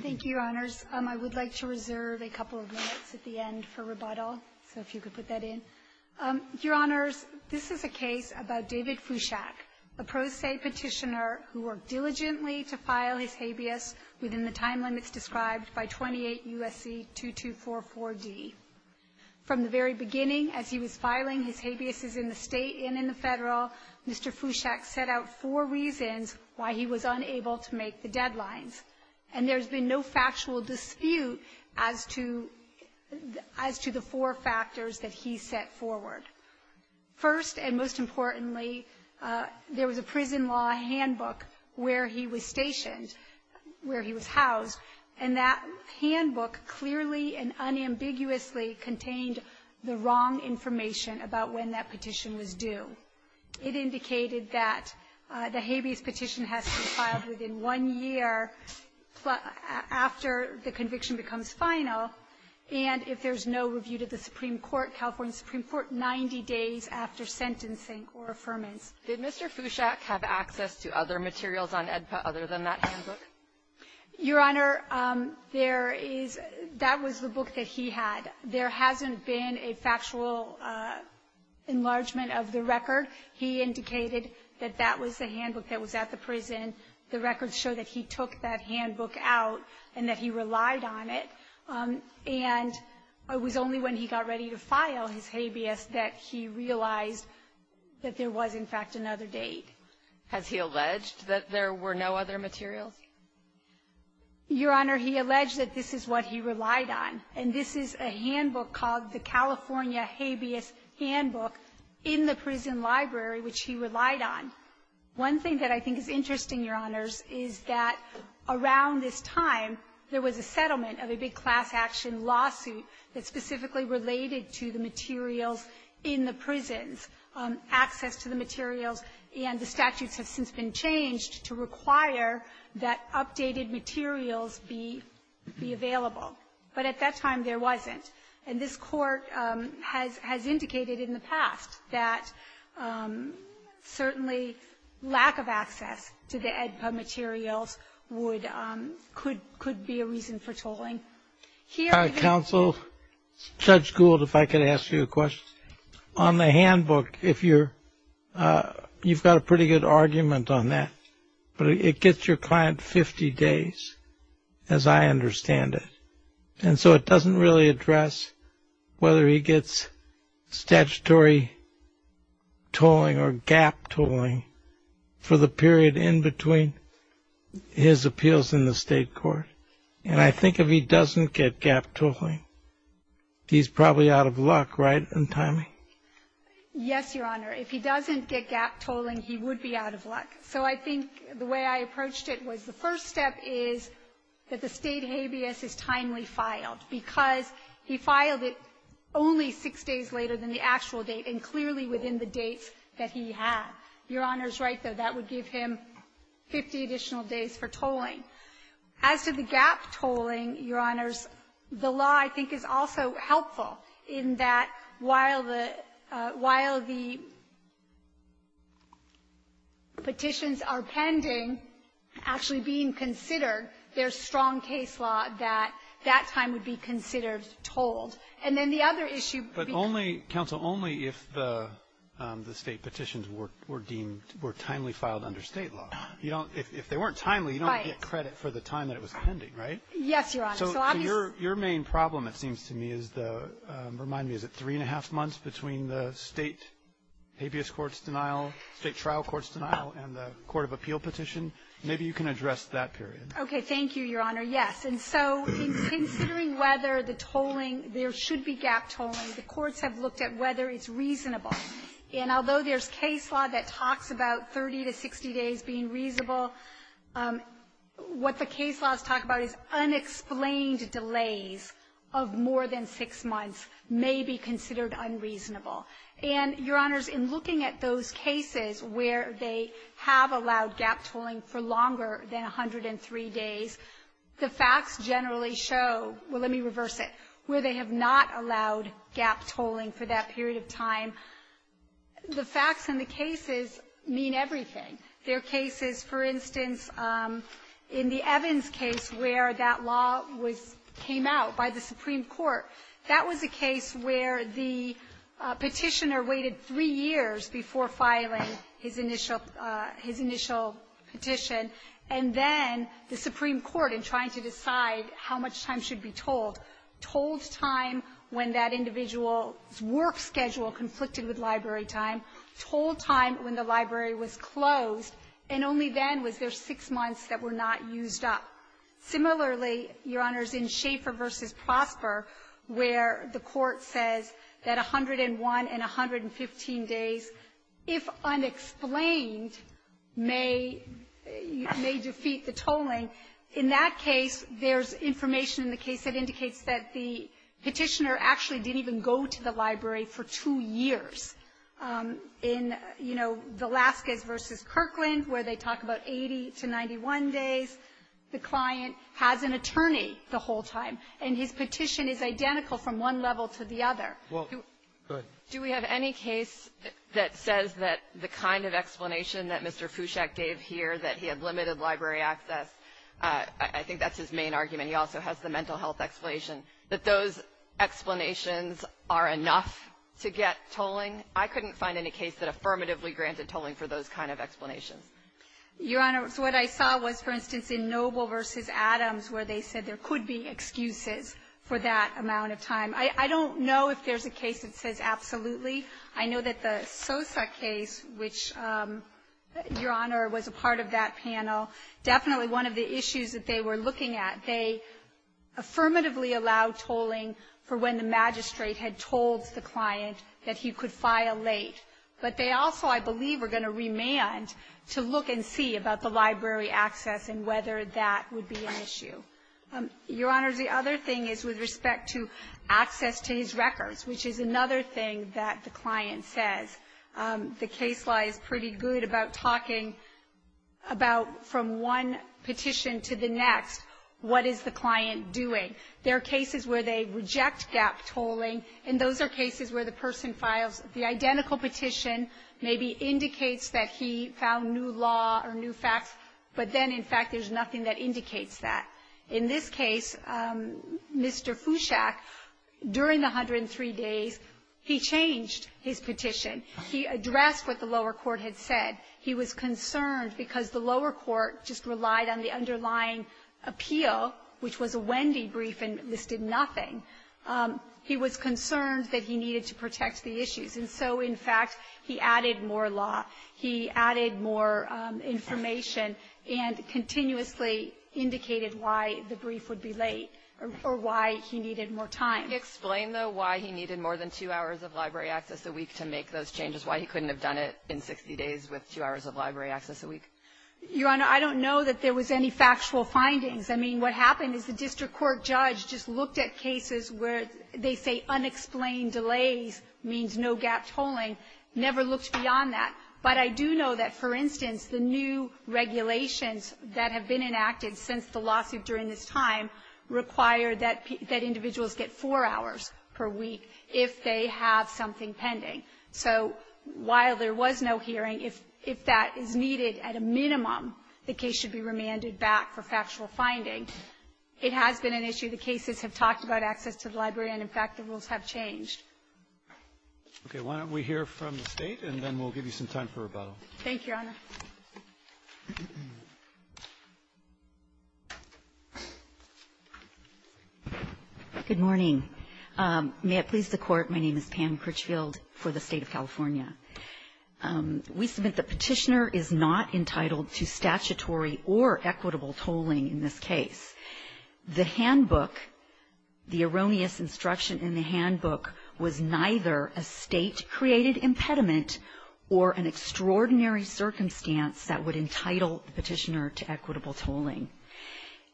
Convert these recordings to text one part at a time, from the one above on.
Thank you, Your Honors. I would like to reserve a couple of minutes at the end for rebuttal, so if you could put that in. Your Honors, this is a case about David Fuschak, a pro se petitioner who worked diligently to file his habeas within the time limits described by 28 U.S.C. 2244D. From the very beginning, as he was filing his habeas in the state and in the federal, Mr. Fuschak set out four reasons why he was unable to make the deadlines. And there's been no factual dispute as to the four factors that he set forward. First and most importantly, there was a prison law handbook where he was stationed, where he was housed, and that handbook clearly and unambiguously contained the wrong information about when that petition was due. It indicated that the habeas petition has to be filed within one year after the conviction becomes final, and if there's no review to the Supreme Court, California Supreme Court, 90 days after sentencing or affirmance. Kagan. Did Mr. Fuschak have access to other materials on AEDPA other than that handbook? Your Honor, there is — that was the book that he had. There hasn't been a factual enlargement of the record. He indicated that that was the handbook that was at the prison. The records show that he took that handbook out and that he relied on it. And it was only when he got ready to file his habeas that he realized that there was, in fact, another date. Has he alleged that there were no other materials? Your Honor, he alleged that this is what he relied on. And this is a handbook called the California Habeas Handbook in the prison library, which he relied on. One thing that I think is interesting, Your Honors, is that around this time, there was a settlement of a big class-action lawsuit that specifically related to the materials in the prisons, access to the materials, and the statutes have since been changed to require that updated materials be available. But at that time, there wasn't. And this Court has indicated in the past that certainly lack of access to the AEDPA materials would — could be a reason for tolling. Here — Also, Judge Gould, if I could ask you a question, on the handbook, if you're — you've got a pretty good argument on that, but it gets your client 50 days, as I understand it. And so it doesn't really address whether he gets statutory tolling or gap tolling for the period in between his appeals in the state court. And I think if he doesn't get gap tolling, he's probably out of luck, right, in timing? Yes, Your Honor. If he doesn't get gap tolling, he would be out of luck. So I think the way I approached it was the first step is that the State Habeas is timely filed because he filed it only six days later than the actual date and clearly within the dates that he had. Your Honor's right, though, that would give him 50 additional days for tolling. As to the gap tolling, Your Honors, the law, I think, is also helpful in that while the — while the petitions are pending, actually being considered, there's strong case law that that time would be considered tolled. And then the other issue — So only if the State petitions were deemed — were timely filed under State law. You don't — if they weren't timely, you don't get credit for the time that it was pending, right? Yes, Your Honor. So your main problem, it seems to me, is the — remind me, is it three-and-a-half months between the State habeas court's denial, State trial court's denial, and the court of appeal petition? Maybe you can address that period. Okay. Thank you, Your Honor. And so considering whether the tolling — there should be gap tolling, the courts have looked at whether it's reasonable. And although there's case law that talks about 30 to 60 days being reasonable, what the case laws talk about is unexplained delays of more than six months may be considered unreasonable. And, Your Honors, in looking at those cases where they have allowed gap tolling for longer than 103 days, the facts generally show — well, let me reverse it — where they have not allowed gap tolling for that period of time, the facts in the cases mean everything. There are cases, for instance, in the Evans case where that law was — came out by the Supreme Court. That was a case where the petitioner waited three years before filing his initial — his initial petition. And then the Supreme Court, in trying to decide how much time should be tolled, tolled time when that individual's work schedule conflicted with library time, tolled time when the library was closed, and only then was there six months that were not used up. Similarly, Your Honors, in Schaefer v. Prosper, where the court says that 101 and 115 days, if unexplained, may — may defeat the tolling, in that case, there's information in the case that indicates that there's a gap. It's that the petitioner actually didn't even go to the library for two years. In, you know, Velazquez v. Kirkland, where they talk about 80 to 91 days, the client has an attorney the whole time, and his petition is identical from one level to the other. Do we have any case that says that the kind of explanation that Mr. Fouchek gave here, that he had limited library access, I think that's his main argument. I mean, he also has the mental health explanation, that those explanations are enough to get tolling. I couldn't find any case that affirmatively granted tolling for those kind of explanations. Your Honors, what I saw was, for instance, in Noble v. Adams, where they said there could be excuses for that amount of time. I don't know if there's a case that says absolutely. I know that the Sosa case, which, Your Honor, was a part of that panel. Definitely one of the issues that they were looking at, they affirmatively allowed tolling for when the magistrate had told the client that he could file late. But they also, I believe, are going to remand to look and see about the library access and whether that would be an issue. Your Honors, the other thing is with respect to access to his records, which is another thing that the client says. The case law is pretty good about talking about, from one petition to the next, what is the client doing? There are cases where they reject gap tolling, and those are cases where the person files the identical petition, maybe indicates that he found new law or new facts, but then, in fact, there's nothing that indicates that. In this case, Mr. Fouchac, during the 103 days, he changed his petition. He addressed what the lower court had said. He was concerned because the lower court just relied on the underlying appeal, which was a Wendy brief and listed nothing. He was concerned that he needed to protect the issues. And so, in fact, he added more law. He added more information and continuously indicated why the brief would be late or why he needed more time. Can you explain, though, why he needed more than two hours of library access a week to make those changes, why he couldn't have done it in 60 days with two hours of library access a week? Your Honor, I don't know that there was any factual findings. I mean, what happened is the district court judge just looked at cases where they say unexplained delays means no gap tolling, never looked beyond that. But I do know that, for instance, the new regulations that have been enacted since the lawsuit during this time require that individuals get four hours per week if they have something pending. So while there was no hearing, if that is needed at a minimum, the case should be remanded back for factual finding. It has been an issue. The cases have talked about access to the library, and, in fact, the rules have changed. Okay. Why don't we hear from the State, and then we'll give you some time for rebuttal. Thank you, Your Honor. Good morning. May it please the Court. My name is Pam Critchfield for the State of California. We submit the Petitioner is not entitled to statutory or equitable tolling in this case. The handbook, the erroneous instruction in the handbook, was neither a State-created impediment or an extraordinary circumstance that would entitle the Petitioner to equitable tolling.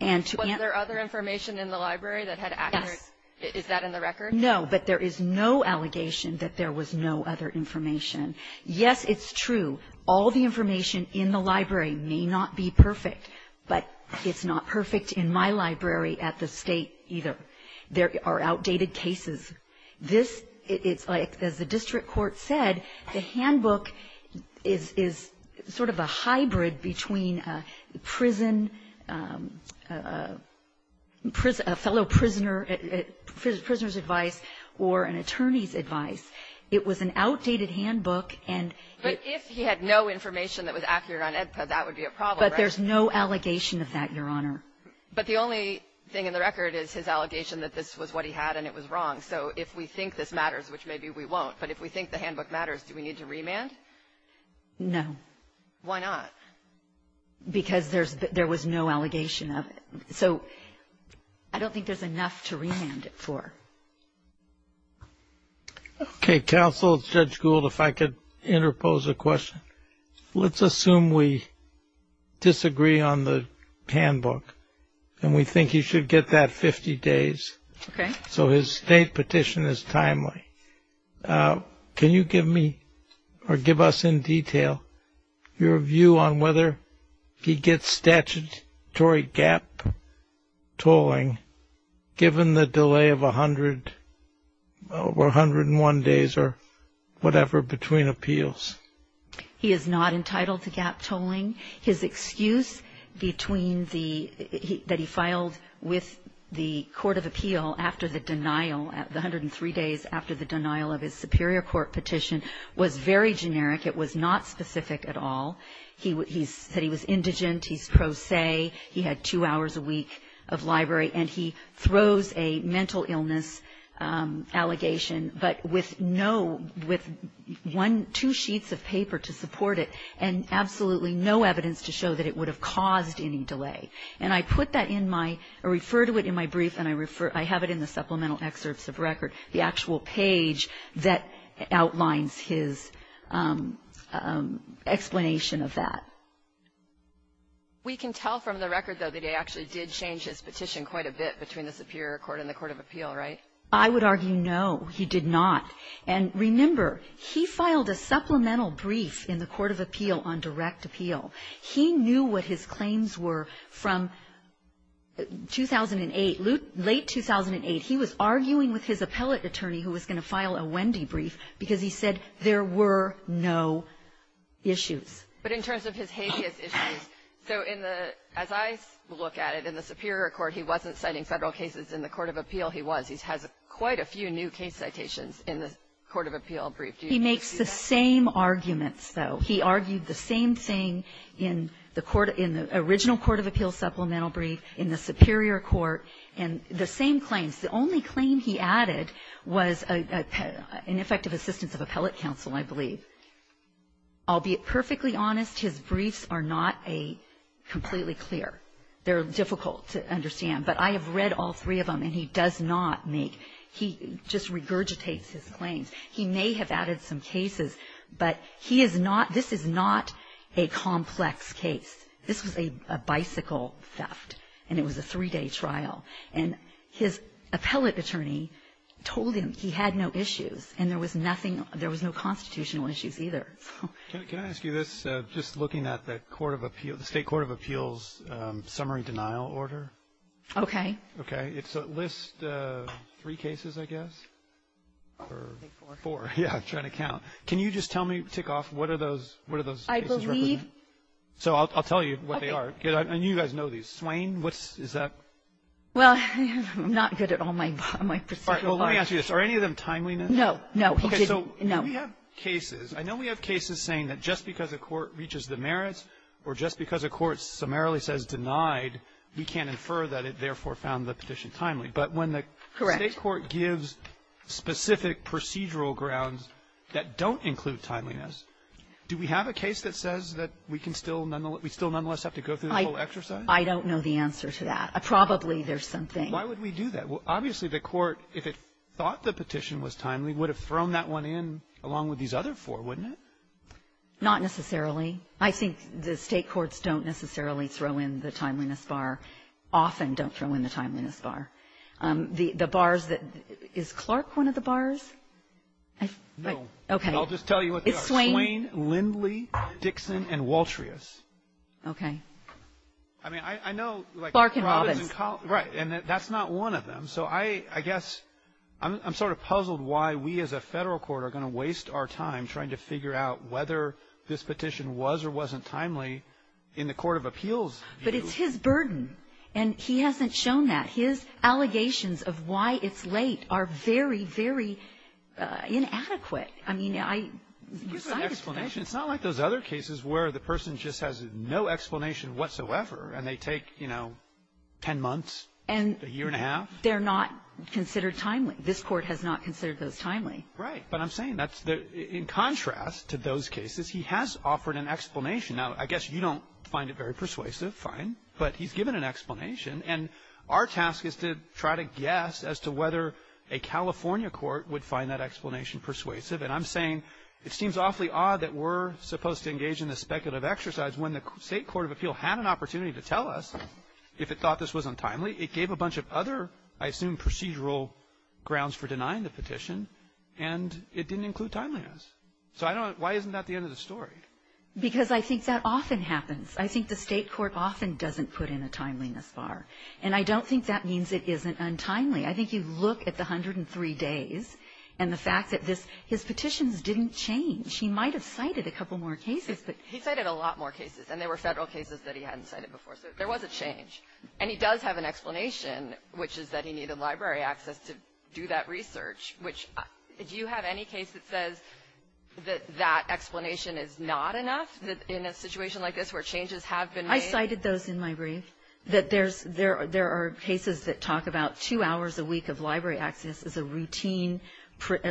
And to answer the question of whether there was other information in the library that had access, is that in the record? No, but there is no allegation that there was no other information. Yes, it's true, all the information in the library may not be perfect, but it's not perfect in my library at the State, either. There are outdated cases. This, it's like, as the district court said, the handbook is sort of a hybrid between prison, a fellow prisoner, prisoner's advice, or an attorney's advice. It was an outdated handbook, and it was an outdated handbook. But if he had no information that was accurate on Edpa, that would be a problem, right? There's no allegation of that, Your Honor. But the only thing in the record is his allegation that this was what he had and it was wrong. So if we think this matters, which maybe we won't, but if we think the handbook matters, do we need to remand? No. Why not? Because there's no allegation of it. So I don't think there's enough to remand it for. Okay. Counsel, Judge Gould, if I could interpose a question. Let's assume we disagree on the handbook, and we think he should get that 50 days, so his state petition is timely. Can you give me or give us in detail your view on whether he gets statutory gap tolling given the delay of 101 days or whatever between appeals? He is not entitled to gap tolling. His excuse that he filed with the court of appeal after the denial, the 103 days after the denial of his superior court petition, was very generic. It was not specific at all. He said he was indigent. He's pro se. He had two hours a week of library, and he throws a mental illness allegation, but with no, with one, two sheets of paper to support it, and absolutely no evidence to show that it would have caused any delay. And I put that in my, I refer to it in my brief, and I refer, I have it in the supplemental excerpts of record, the actual page that outlines his explanation of that. We can tell from the record, though, that he actually did change his petition quite a bit between the superior court and the court of appeal, right? I would argue no, he did not. And remember, he filed a supplemental brief in the court of appeal on direct appeal. He knew what his claims were from 2008, late 2008. He was arguing with his appellate attorney who was going to file a Wendy brief because he said there were no issues. But in terms of his habeas issues, so in the, as I look at it, in the superior court, he wasn't citing federal cases. In the court of appeal, he was. He has quite a few new case citations in the court of appeal brief. Do you see that? He makes the same arguments, though. He argued the same thing in the original court of appeal supplemental brief, in the superior court, and the same claims. I'll be perfectly honest. His briefs are not a completely clear. They're difficult to understand. But I have read all three of them, and he does not make, he just regurgitates his claims. He may have added some cases, but he is not, this is not a complex case. This was a bicycle theft, and it was a three-day trial. And his appellate attorney told him he had no issues, and there was nothing, there was no constitutional issues either. So. Can I ask you this, just looking at the court of appeal, the state court of appeals summary denial order? Okay. Okay. It's a list of three cases, I guess, or four. Yeah, I'm trying to count. Can you just tell me, tick off, what are those, what are those cases representing? I believe. So I'll tell you what they are. Okay. And you guys know these. Swain, what's, is that? Well, I'm not good at all my, my perspective on it. All right, well, let me ask you this. Are any of them timeliness? No, no, he didn't. Okay, so we have cases. I know we have cases saying that just because a court reaches the merits, or just because a court summarily says denied, we can't infer that it therefore found the petition timely, but when the state court gives specific procedural grounds that don't include timeliness, do we have a case that says that we can still, nonetheless, we still nonetheless have to go through the whole exercise? I don't know the answer to that. Probably there's something. Why would we do that? Well, obviously the court, if it thought the petition was timely, would have thrown that one in along with these other four, wouldn't it? Not necessarily. I think the state courts don't necessarily throw in the timeliness bar. Often don't throw in the timeliness bar. The, the bars that, is Clark one of the bars? Okay. I'll just tell you what they are. It's Swain. Swain, Lindley, Dixon, and Waltrius. Okay. I mean, I, I know, like. Clark and Robbins. Right, and that's not one of them. So I, I guess, I'm, I'm sort of puzzled why we as a federal court are going to waste our time trying to figure out whether this petition was or wasn't timely in the court of appeals view. But it's his burden. And he hasn't shown that. His allegations of why it's late are very, very inadequate. I mean, I, I decided to let you. It's not like those other cases where the person just has no explanation whatsoever and they take, you know, ten months, a year and a half. They're not considered timely. This court has not considered those timely. Right. But I'm saying that's the, in contrast to those cases, he has offered an explanation. Now, I guess you don't find it very persuasive. Fine. But he's given an explanation. And our task is to try to guess as to whether a California court would find that explanation persuasive. And I'm saying it seems awfully odd that we're supposed to engage in this speculative exercise when the state court of appeal had an opportunity to tell us if it thought this was untimely. It gave a bunch of other, I assume, procedural grounds for denying the petition. And it didn't include timeliness. So I don't, why isn't that the end of the story? Because I think that often happens. I think the state court often doesn't put in a timeliness bar. And I don't think that means it isn't untimely. I think you look at the 103 days and the fact that this, his petitions didn't change. He might have cited a couple more cases, but. He cited a lot more cases. And they were Federal cases that he hadn't cited before. So there was a change. And he does have an explanation, which is that he needed library access to do that research, which, do you have any case that says that that explanation is not enough in a situation like this where changes have been made? I cited those in my brief, that there's, there are cases that talk about two hours a week of library access as a routine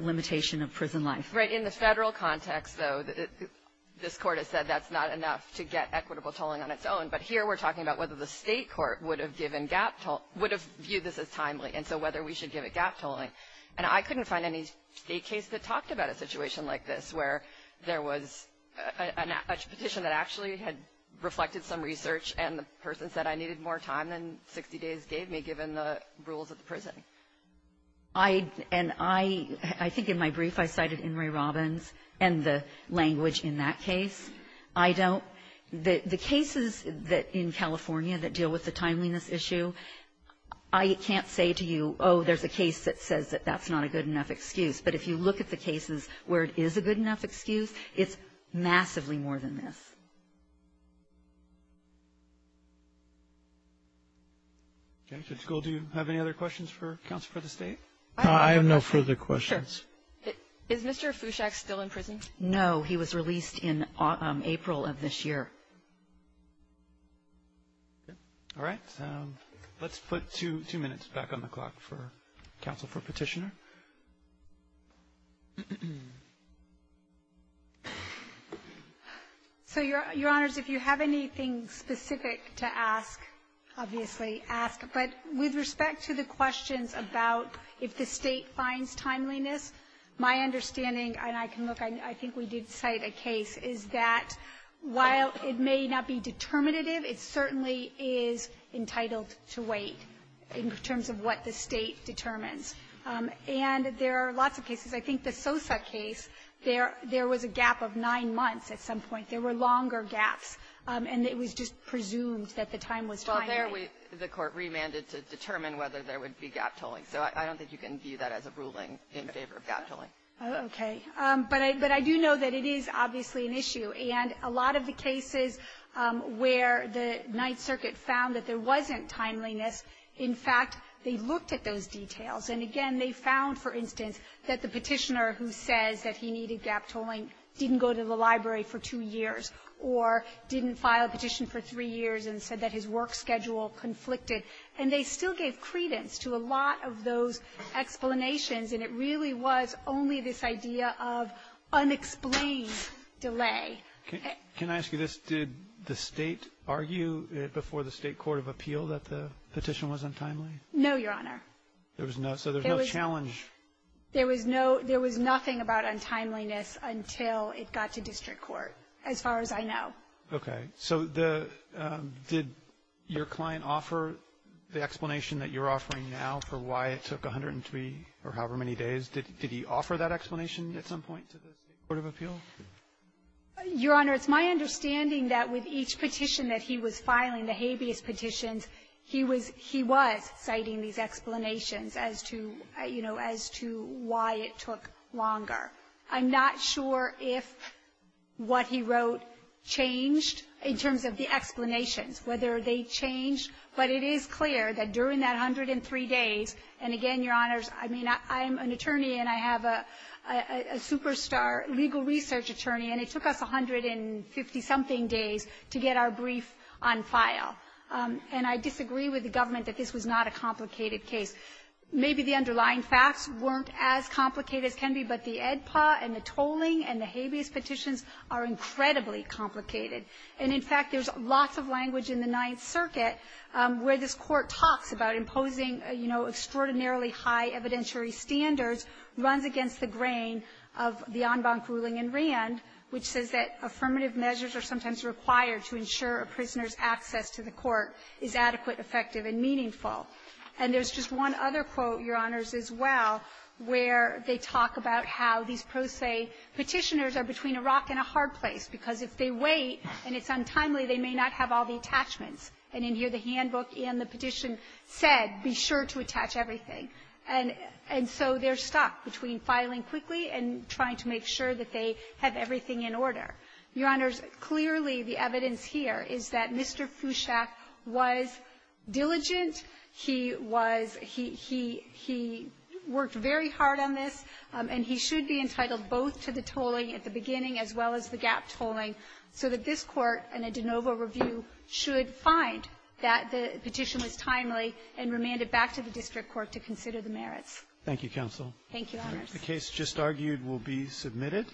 limitation of prison life. Right. In the Federal context, though, this Court has said that's not enough to get equitable tolling on its own. But here we're talking about whether the state court would have given gap tolling or would have viewed this as timely. And so whether we should give it gap tolling. And I couldn't find any state case that talked about a situation like this where there was a petition that actually had reflected some research and the person said I needed more time than 60 days gave me given the rules of the prison. I, and I, I think in my brief I cited In re Robbins and the language in that case. I don't. The cases that in California that deal with the timeliness issue, I can't say to you, oh, there's a case that says that that's not a good enough excuse. But if you look at the cases where it is a good enough excuse, it's massively more than this. Okay. So, do you have any other questions for counsel for the State? I have no further questions. Sure. Is Mr. Fushak still in prison? No. He was released in April of this year. All right. Let's put two, two minutes back on the clock for counsel for petitioner. So, Your Honors, if you have anything specific to ask, obviously ask. But with respect to the questions about if the State finds timeliness, my understanding and I can look, I think we did cite a case, is that while it may not be determinative, it certainly is entitled to wait in terms of what the State determines. And there are lots of cases. I think the Sosa case, there was a gap of nine months at some point. There were longer gaps, and it was just presumed that the time was timely. Well, there the Court remanded to determine whether there would be gap tolling. So I don't think you can view that as a ruling in favor of gap tolling. Okay. But I do know that it is obviously an issue. And a lot of the cases where the Ninth Circuit found that there wasn't timeliness, in fact, they looked at those details. And again, they found, for instance, that the petitioner who says that he needed gap tolling didn't go to the library for two years or didn't file a petition for three years and said that his work schedule conflicted. And they still gave credence to a lot of those explanations. And it really was only this idea of unexplained delay. Can I ask you this? Did the State argue before the State Court of Appeal that the petition was untimely? No, Your Honor. There was no, so there was no challenge. There was no, there was nothing about untimeliness until it got to district court, as far as I know. Okay. So the, did your client offer the explanation that you're offering now for why it took 103 or however many days? Did he offer that explanation at some point to the State Court of Appeal? Your Honor, it's my understanding that with each petition that he was filing, the habeas petitions, he was citing these explanations as to, you know, as to why it took longer. I'm not sure if what he wrote changed in terms of the explanations, whether they But it is clear that during that 103 days, and again, Your Honors, I mean, I'm an attorney, and I have a superstar legal research attorney, and it took us 150-something days to get our brief on file. And I disagree with the government that this was not a complicated case. Maybe the underlying facts weren't as complicated as can be, but the EDPA and the tolling and the habeas petitions are incredibly complicated. And, in fact, there's lots of language in the Ninth Circuit where this Court talks about imposing, you know, extraordinarily high evidentiary standards runs against the grain of the en banc ruling in Rand, which says that affirmative measures are sometimes required to ensure a prisoner's access to the court is adequate, effective, and meaningful. And there's just one other quote, Your Honors, as well, where they talk about how these pro se Petitioners are between a rock and a hard place, because if they wait and it's untimely, they may not have all the attachments. And in here, the handbook and the petition said, be sure to attach everything. And so they're stuck between filing quickly and trying to make sure that they have everything in order. Your Honors, clearly, the evidence here is that Mr. Fouchek was diligent. He was he he he worked very hard on this, and he should be entitled both to the tolling at the beginning as well as the gap tolling, so that this Court in a de novo review should find that the petition was timely and remand it back to the district court to consider the merits. Thank you, counsel. Thank you, Your Honors. The case just argued will be submitted.